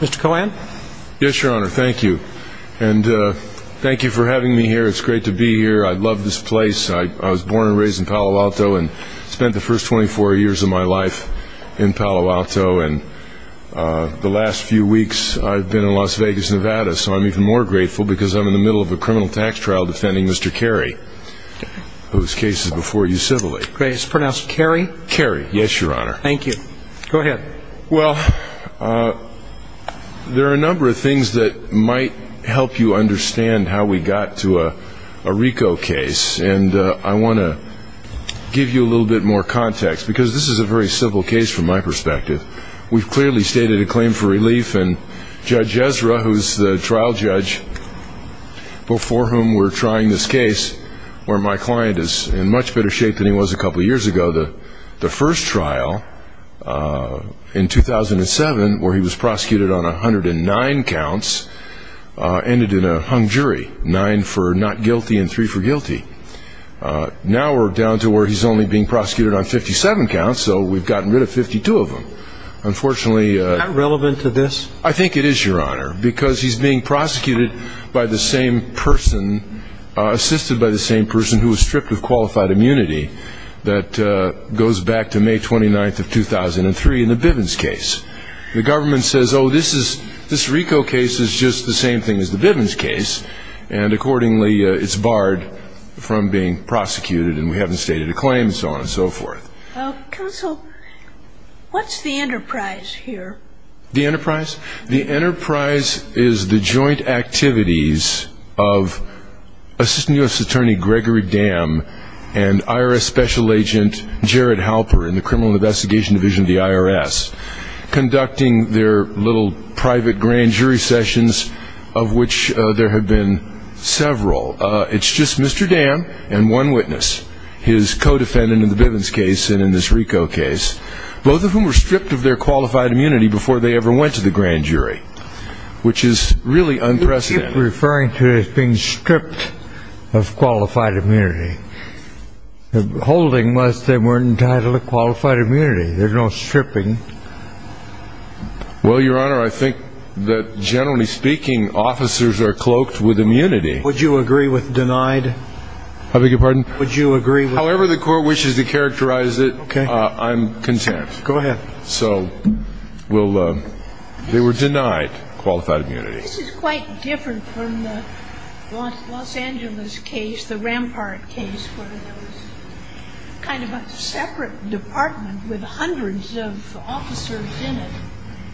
Mr. Cohen. Yes, your honor. Thank you. And thank you for having me here. It's great to be here. I love this place. I was born and raised in Palo Alto and spent the first 24 years of my life in Palo Alto. And the last few weeks I've been in Las Vegas, Nevada. So I'm even more grateful because I'm in the middle of a criminal tax trial defending Mr. Carey, whose case is before you civilly. Great. Is it pronounced Carey? Carey. Yes, your honor. Thank you. Go ahead. Okay. Well, there are a number of things that might help you understand how we got to a RICO case. And I want to give you a little bit more context because this is a very simple case from my perspective. We've clearly stated a claim for relief. And Judge Ezra, who's the trial judge before whom we're trying this case, where my client is in much better shape than he was a couple years ago, the first trial in 2007 where he was prosecuted on 109 counts ended in a hung jury, nine for not guilty and three for guilty. Now we're down to where he's only being prosecuted on 57 counts, so we've gotten rid of 52 of them. Unfortunately... Is that relevant to this? I think it is, your honor, because he's being prosecuted by the same person, assisted by the same person who was stripped of qualified immunity that goes back to May 29th of 2003 in the Bivens case. The government says, oh, this RICO case is just the same thing as the Bivens case, and accordingly it's barred from being prosecuted and we haven't stated a claim and so on and so forth. Counsel, what's the enterprise here? The enterprise? The enterprise is the joint activities of Assistant U.S. Attorney Gregory Dam and IRS Special Agent Jared Halper in the Criminal Investigation Division of the IRS conducting their little private grand jury sessions of which there have been several. It's just Mr. Dam and one witness, his co-defendant in the Bivens case and in this RICO case, both of whom were stripped of their qualified immunity before they ever went to the grand jury, which is really unprecedented. You keep referring to it as being stripped of qualified immunity. The holding was they weren't entitled to qualified immunity. There's no stripping. Well, your honor, I think that, generally speaking, officers are cloaked with immunity. Would you agree with denied? I beg your pardon? Would you agree with denied? However the court wishes to characterize it, I'm content. Go ahead. So they were denied qualified immunity. This is quite different from the Los Angeles case, the Rampart case, where there was kind of a separate department with hundreds of officers in it.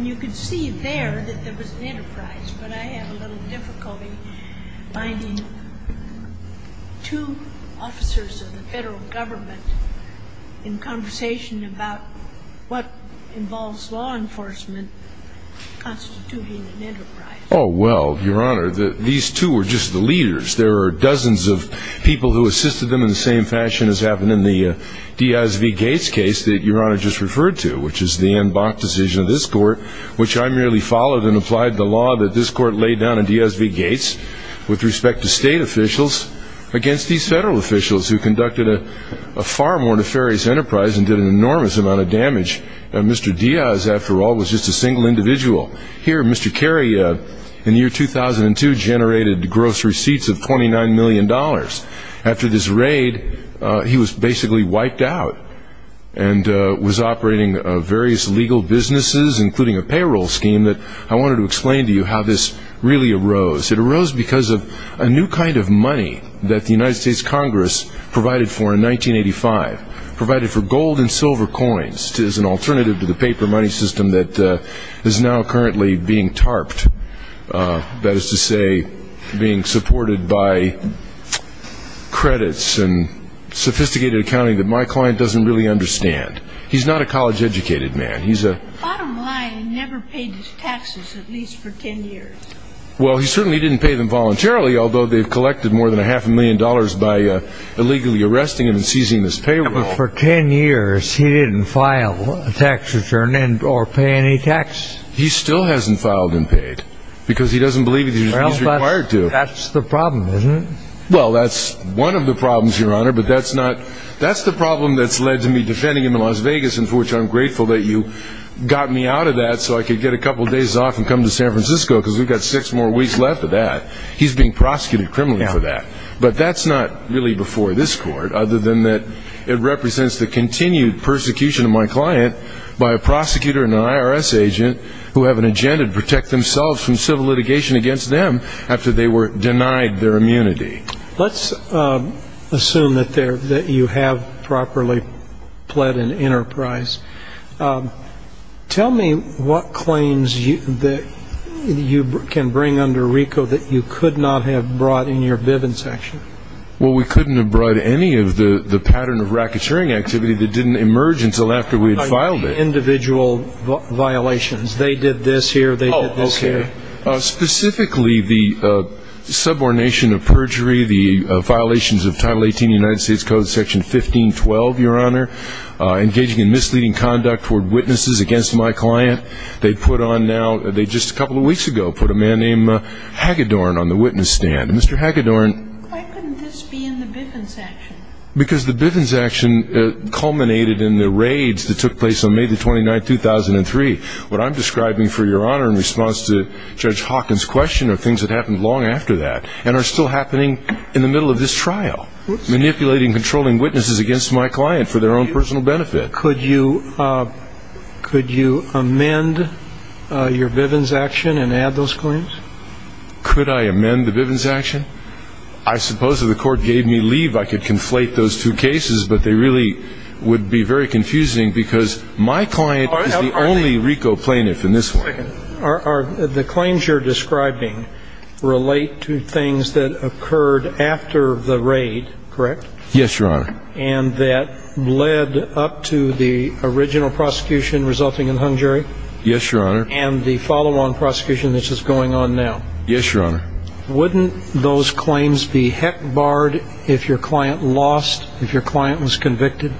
You can see there that there was an enterprise, but I have a little difficulty finding two officers of the federal government in conversation about what involves law enforcement constituting an enterprise. Oh, well, your honor, these two were just the leaders. There were dozens of people who assisted them in the same fashion as happened in the Diaz v. Gates case that your honor just referred to, which is the en banc decision of this court, which I merely followed and applied the law that this court laid down in Diaz v. Gates with respect to state officials against these federal officials who conducted a far more nefarious enterprise and did an enormous amount of damage. Mr. Diaz, after all, was just a single individual. Here, Mr. Kerry, in the year 2002, generated gross receipts of $29 million. After this raid, he was basically wiped out and was operating various legal businesses, including a payroll scheme. I wanted to explain to you how this really arose. It arose because of a new kind of money that the United States Congress provided for in 1985, provided for gold and silver coins as an alternative to the paper money system that is now currently being tarped, that is to say being supported by credits and sophisticated accounting that my client doesn't really understand. He's not a college-educated man. Bottom line, he never paid his taxes, at least for 10 years. Well, he certainly didn't pay them voluntarily, although they've collected more than a half a million dollars by illegally arresting him and seizing his payroll. But for 10 years, he didn't file a tax return or pay any tax. He still hasn't filed and paid because he doesn't believe he's required to. Well, that's the problem, isn't it? Well, that's one of the problems, Your Honor, but that's the problem that's led to me defending him in Las Vegas, and for which I'm grateful that you got me out of that so I could get a couple days off and come to San Francisco because we've got six more weeks left of that. He's being prosecuted criminally for that. But that's not really before this Court, other than that it represents the continued persecution of my client by a prosecutor and an IRS agent who have an agenda to protect themselves from civil litigation against them after they were denied their immunity. Let's assume that you have properly pled an enterprise. Tell me what claims that you can bring under RICO that you could not have brought in your Bivens section. Well, we couldn't have brought any of the pattern of racketeering activity that didn't emerge until after we had filed it. Individual violations. They did this here, they did this here. Specifically, the subordination of perjury, the violations of Title 18 of the United States Code, Section 1512, Your Honor, engaging in misleading conduct toward witnesses against my client. They put on now, they just a couple of weeks ago put a man named Hagedorn on the witness stand. Mr. Hagedorn. Why couldn't this be in the Bivens action? Because the Bivens action culminated in the raids that took place on May the 29th, 2003. What I'm describing for Your Honor in response to Judge Hawkins' question are things that happened long after that and are still happening in the middle of this trial. Manipulating, controlling witnesses against my client for their own personal benefit. Could you amend your Bivens action and add those claims? Could I amend the Bivens action? I suppose if the court gave me leave, I could conflate those two cases, but they really would be very confusing because my client is the only RICO plaintiff in this one. The claims you're describing relate to things that occurred after the raid, correct? Yes, Your Honor. And that led up to the original prosecution resulting in hung jury? Yes, Your Honor. And the follow-on prosecution that's just going on now? Yes, Your Honor. Wouldn't those claims be heck barred if your client lost, if your client was convicted?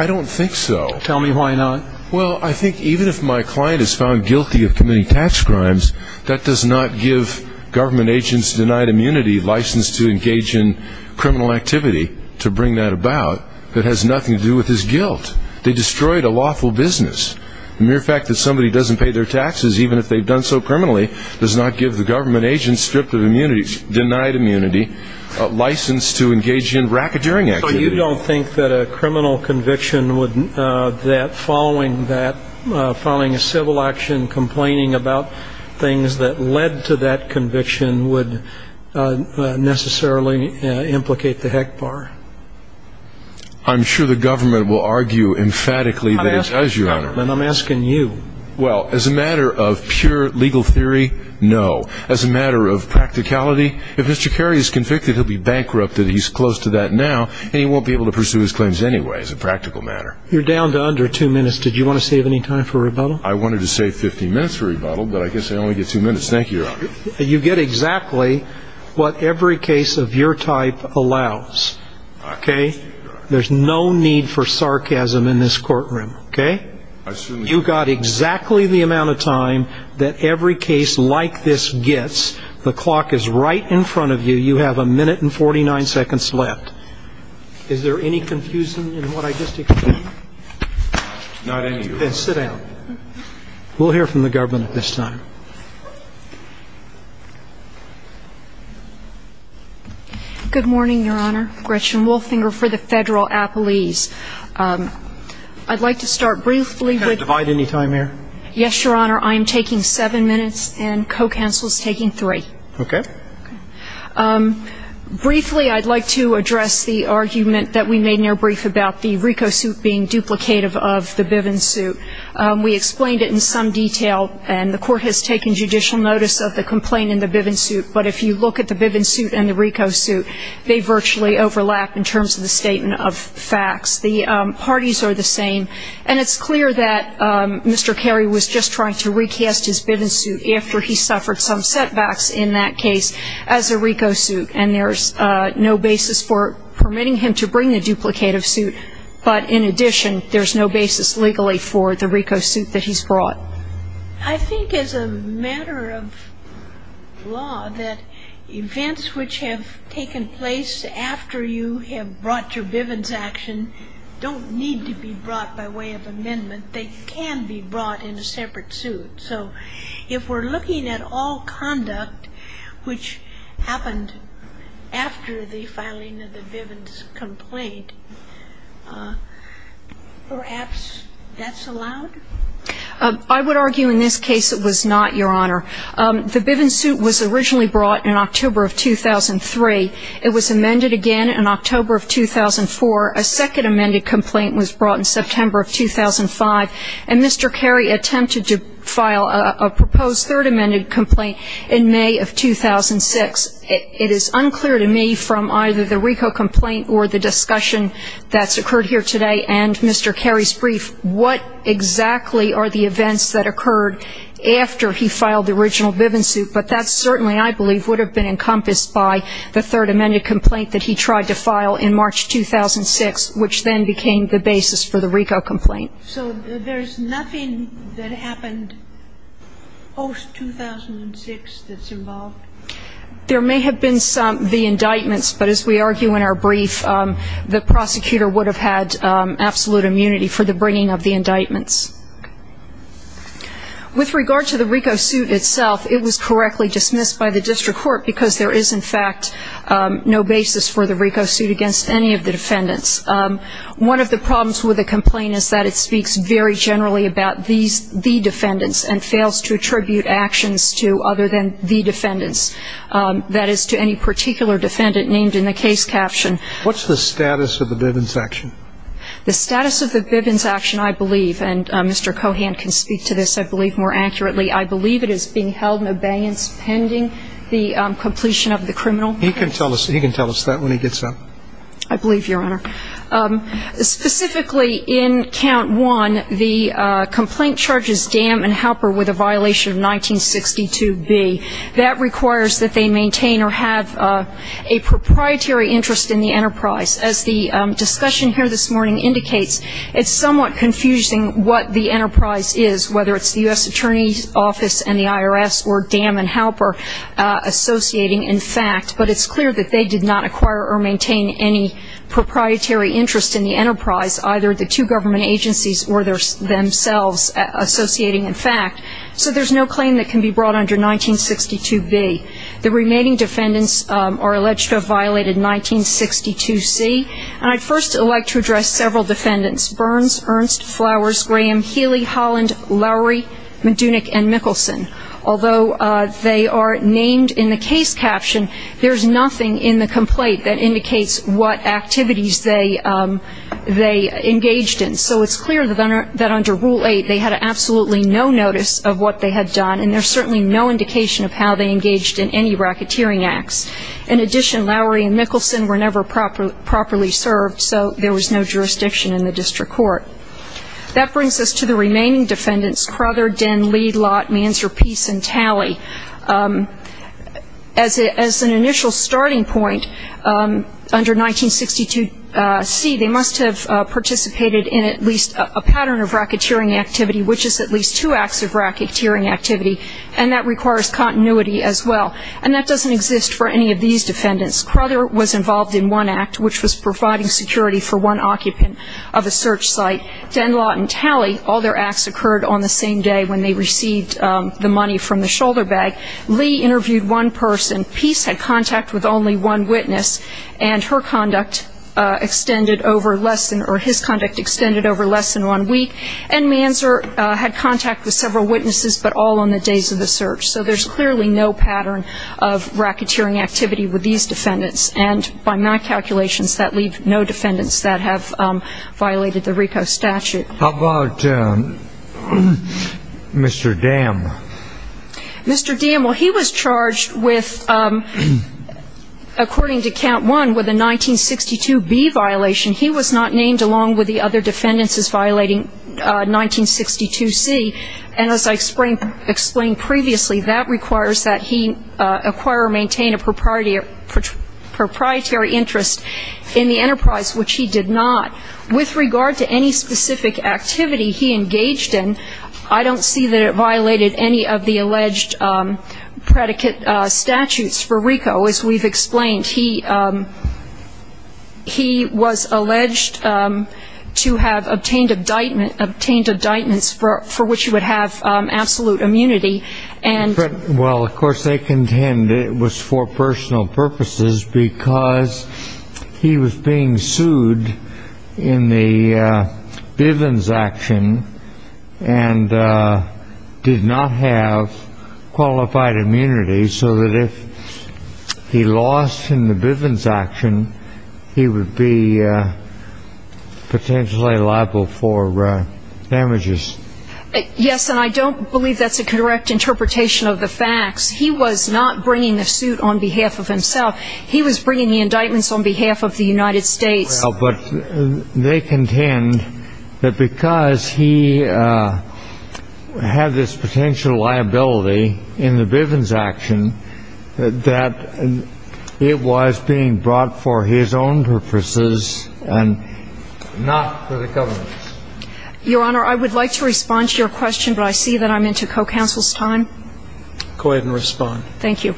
I don't think so. Tell me why not. Well, I think even if my client is found guilty of committing tax crimes, that does not give government agents denied immunity license to engage in criminal activity to bring that about. That has nothing to do with his guilt. They destroyed a lawful business. The mere fact that somebody doesn't pay their taxes, even if they've done so criminally, does not give the government agents stripped of immunity, denied immunity, license to engage in racketeering activity. So you don't think that a criminal conviction would, that following that, following a civil action, complaining about things that led to that conviction would necessarily implicate the heck bar? I'm sure the government will argue emphatically that it does, Your Honor. Then I'm asking you. Well, as a matter of pure legal theory, no. As a matter of practicality, if Mr. Carey is convicted, he'll be bankrupt, that he's close to that now, and he won't be able to pursue his claims anyway, as a practical matter. You're down to under two minutes. Did you want to save any time for rebuttal? I wanted to save 15 minutes for rebuttal, but I guess I only get two minutes. Thank you, Your Honor. You get exactly what every case of your type allows, okay? There's no need for sarcasm in this courtroom, okay? You got exactly the amount of time that every case like this gets. The clock is right in front of you. You have a minute and 49 seconds left. Is there any confusion in what I just explained? Not any, Your Honor. Then sit down. We'll hear from the government at this time. Good morning, Your Honor. Gretchen Wolfinger for the Federal Appellees. I'd like to start briefly with you. Can I divide any time here? Yes, Your Honor. I am taking seven minutes, and co-counsel is taking three. Okay. Briefly, I'd like to address the argument that we made in your brief about the RICO suit being duplicative of the Bivens suit. And it's clear that Mr. Cary was just trying to recast his Bivens suit after he suffered some setbacks in that case as a RICO suit, and there's no basis for permitting him to bring the duplicative suit. But in addition, there's no basis legally for the RICO suit that he's brought. It's a matter of law that events which have taken place after you have brought your Bivens action don't need to be brought by way of amendment. They can be brought in a separate suit. So if we're looking at all conduct which happened after the filing of the Bivens complaint, perhaps that's allowed? I would argue in this case it was not, Your Honor. The Bivens suit was originally brought in October of 2003. It was amended again in October of 2004. A second amended complaint was brought in September of 2005, and Mr. Cary attempted to file a proposed third amended complaint in May of 2006. It is unclear to me from either the RICO complaint or the discussion that's occurred here today and Mr. Cary's brief what exactly are the events that occurred after he filed the original Bivens suit, but that certainly I believe would have been encompassed by the third amended complaint that he tried to file in March 2006, which then became the basis for the RICO complaint. So there's nothing that happened post-2006 that's involved? There may have been some, the indictments, but as we argue in our brief, the prosecutor would have had absolute immunity for the bringing of the indictments. With regard to the RICO suit itself, it was correctly dismissed by the district court because there is, in fact, no basis for the RICO suit against any of the defendants. One of the problems with the complaint is that it speaks very generally about the defendants and fails to attribute actions to other than the defendants, that is to any particular defendant named in the case caption. What's the status of the Bivens action? The status of the Bivens action, I believe, and Mr. Cohan can speak to this, I believe, more accurately, I believe it is being held in abeyance pending the completion of the criminal case. He can tell us that when he gets up. I believe, Your Honor. Specifically, in count one, the complaint charges Dam and Halper with a violation of 1962B. That requires that they maintain or have a proprietary interest in the enterprise. As the discussion here this morning indicates, it's somewhat confusing what the enterprise is, whether it's the U.S. Attorney's Office and the IRS or Dam and Halper associating in fact, but it's clear that they did not acquire or maintain any proprietary interest in the enterprise, either the two government agencies or themselves associating in fact. So there's no claim that can be brought under 1962B. The remaining defendants are alleged to have violated 1962C. And I'd first like to address several defendants, Burns, Ernst, Flowers, Graham, Healy, Holland, Lowry, McDunick, and Mickelson. Although they are named in the case caption, there's nothing in the complaint that indicates what activities they engaged in. So it's clear that under Rule 8 they had absolutely no notice of what they had done, and there's certainly no indication of how they engaged in any racketeering acts. In addition, Lowry and Mickelson were never properly served, so there was no jurisdiction in the district court. That brings us to the remaining defendants, Crother, Denn, Lee, Lott, Manzer, Peace, and Talley. As an initial starting point under 1962C, they must have participated in at least a pattern of racketeering activity, which is at least two acts of racketeering activity, and that requires continuity as well. And that doesn't exist for any of these defendants. Crother was involved in one act, which was providing security for one occupant of a search site. Denn, Lott, and Talley, all their acts occurred on the same day when they received the money from the shoulder bag. Lee interviewed one person. Peace had contact with only one witness, and her conduct extended over less than or his conduct extended over less than one week. And Manzer had contact with several witnesses, but all on the days of the search. So there's clearly no pattern of racketeering activity with these defendants. And by my calculations, that leaves no defendants that have violated the RICO statute. How about Mr. Dam? Mr. Dam, well, he was charged with, according to Count 1, with a 1962B violation. He was not named along with the other defendants as violating 1962C. And as I explained previously, that requires that he acquire or maintain a proprietary interest in the enterprise, which he did not. With regard to any specific activity he engaged in, I don't see that it violated any of the alleged predicate statutes for RICO, as we've explained. He was alleged to have obtained indictments for which he would have absolute immunity. Well, of course, they contend it was for personal purposes because he was being sued in the Bivens action and did not have qualified immunity so that if he lost in the Bivens action, he would be potentially liable for damages. Yes, and I don't believe that's a correct interpretation of the facts. He was not bringing the suit on behalf of himself. He was bringing the indictments on behalf of the United States. Well, but they contend that because he had this potential liability in the Bivens action, that it was being brought for his own purposes and not for the government's. Your Honor, I would like to respond to your question, but I see that I'm into co-counsel's time. Go ahead and respond. Thank you.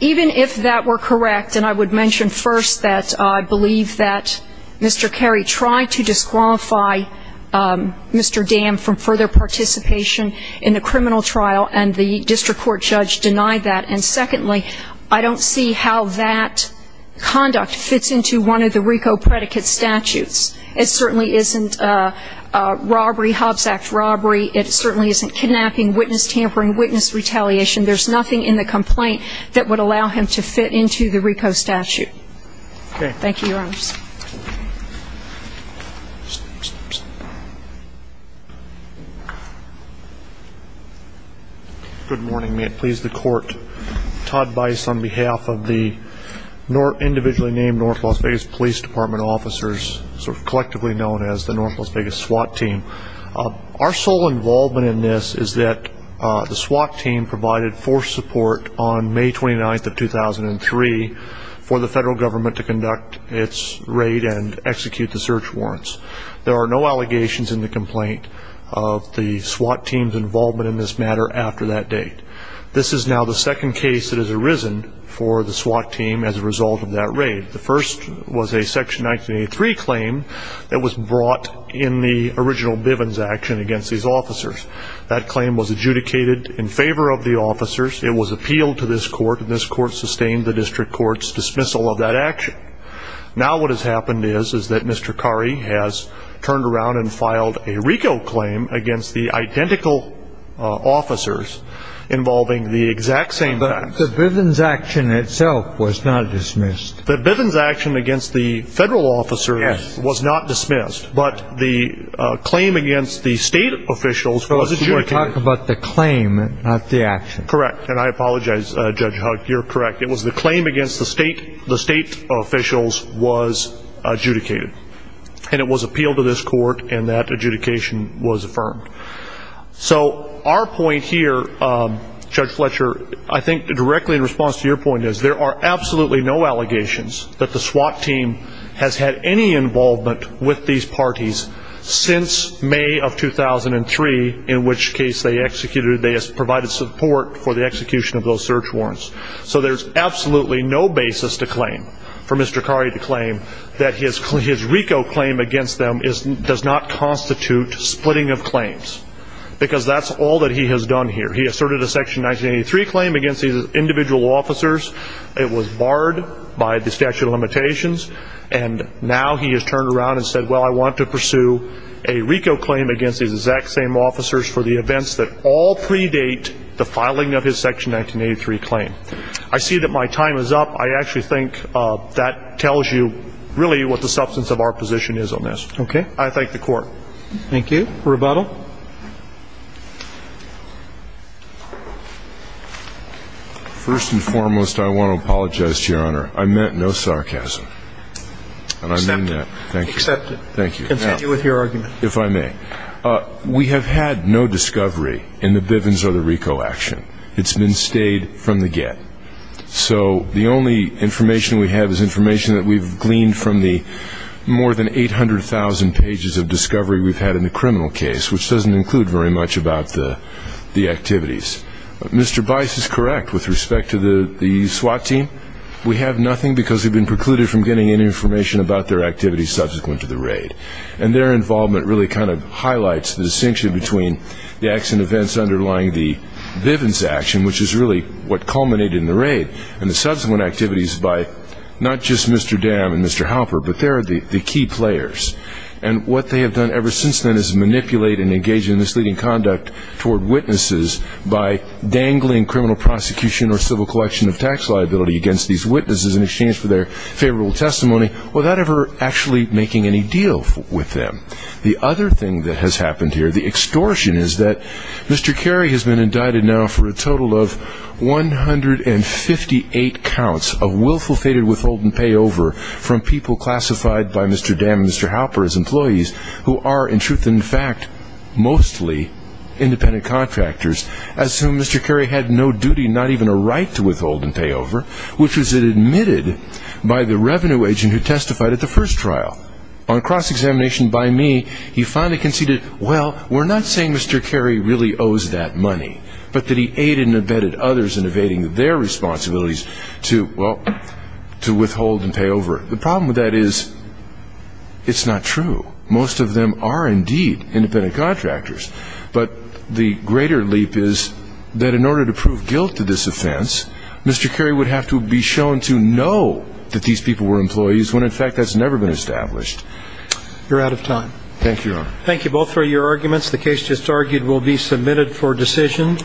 Even if that were correct, and I would mention first that I believe that Mr. Carey tried to disqualify Mr. Dam from further participation in the criminal trial and the district court judge denied that, and secondly, I don't see how that conduct fits into one of the RICO predicate statutes. It certainly isn't a robbery, Hobbs Act robbery. It certainly isn't kidnapping, witness tampering, witness retaliation. There's nothing in the complaint that would allow him to fit into the RICO statute. Okay. Thank you, Your Honors. Good morning. May it please the Court. Todd Bice on behalf of the individually named North Las Vegas Police Department officers, sort of collectively known as the North Las Vegas SWAT team. Our sole involvement in this is that the SWAT team provided force support on May 29th of 2003 for the federal government to conduct its raid and execute the search warrants. There are no allegations in the complaint of the SWAT team's involvement in this matter after that date. This is now the second case that has arisen for the SWAT team as a result of that raid. The first was a Section 1983 claim that was brought in the original Bivens action against these officers. That claim was adjudicated in favor of the officers. It was appealed to this court, and this court sustained the district court's dismissal of that action. Now what has happened is, is that Mr. Curry has turned around and filed a RICO claim against the identical officers involving the exact same facts. But the Bivens action itself was not dismissed. The Bivens action against the federal officers was not dismissed. But the claim against the state officials was adjudicated. So you're talking about the claim, not the action. Correct. And I apologize, Judge Huck, you're correct. It was the claim against the state officials was adjudicated. And it was appealed to this court, and that adjudication was affirmed. So our point here, Judge Fletcher, I think directly in response to your point is there are absolutely no allegations that the SWAT team has had any involvement with these parties since May of 2003, in which case they executed, they provided support for the execution of those search warrants. So there's absolutely no basis to claim, for Mr. Curry to claim, that his RICO claim against them does not constitute splitting of claims. Because that's all that he has done here. He asserted a Section 1983 claim against these individual officers. It was barred by the statute of limitations. And now he has turned around and said, well, I want to pursue a RICO claim against these exact same officers for the events that all predate the filing of his Section 1983 claim. I see that my time is up. I actually think that tells you really what the substance of our position is on this. Okay. I thank the Court. Thank you. Rebuttal. First and foremost, I want to apologize to Your Honor. I meant no sarcasm. And I mean that. Accepted. Thank you. Continue with your argument. If I may. We have had no discovery in the Bivens or the RICO action. It's been stayed from the get. So the only information we have is information that we've gleaned from the more than 800,000 pages of discovery we've had in the criminal case, which doesn't include very much about the activities. Mr. Bice is correct with respect to the SWAT team. We have nothing because we've been precluded from getting any information about their activities subsequent to the raid. And their involvement really kind of highlights the distinction between the acts and events underlying the Bivens action, which is really what culminated in the raid, and the subsequent activities by not just Mr. Dam and Mr. Halper, but they're the key players. And what they have done ever since then is manipulate and engage in misleading conduct toward witnesses by dangling criminal prosecution or civil collection of tax liability against these witnesses in exchange for their favorable testimony without ever actually making any deal with them. The other thing that has happened here, the extortion, is that Mr. Carey has been indicted now for a total of 158 counts of willful fated withhold and payover from people classified by Mr. Dam and Mr. Halper as employees who are, in truth and in fact, mostly independent contractors, as to whom Mr. Carey had no duty, not even a right to withhold and pay over, which was admitted by the revenue agent who testified at the first trial. On cross-examination by me, he finally conceded, well, we're not saying Mr. Carey really owes that money, but that he aided and abetted others in evading their responsibilities to, well, to withhold and pay over. The problem with that is it's not true. Most of them are indeed independent contractors. But the greater leap is that in order to prove guilt to this offense, Mr. Carey would have to be shown to know that these people were employees, when in fact that's never been established. You're out of time. Thank you, Your Honor. Thank you both for your arguments. The case just argued will be submitted for decision.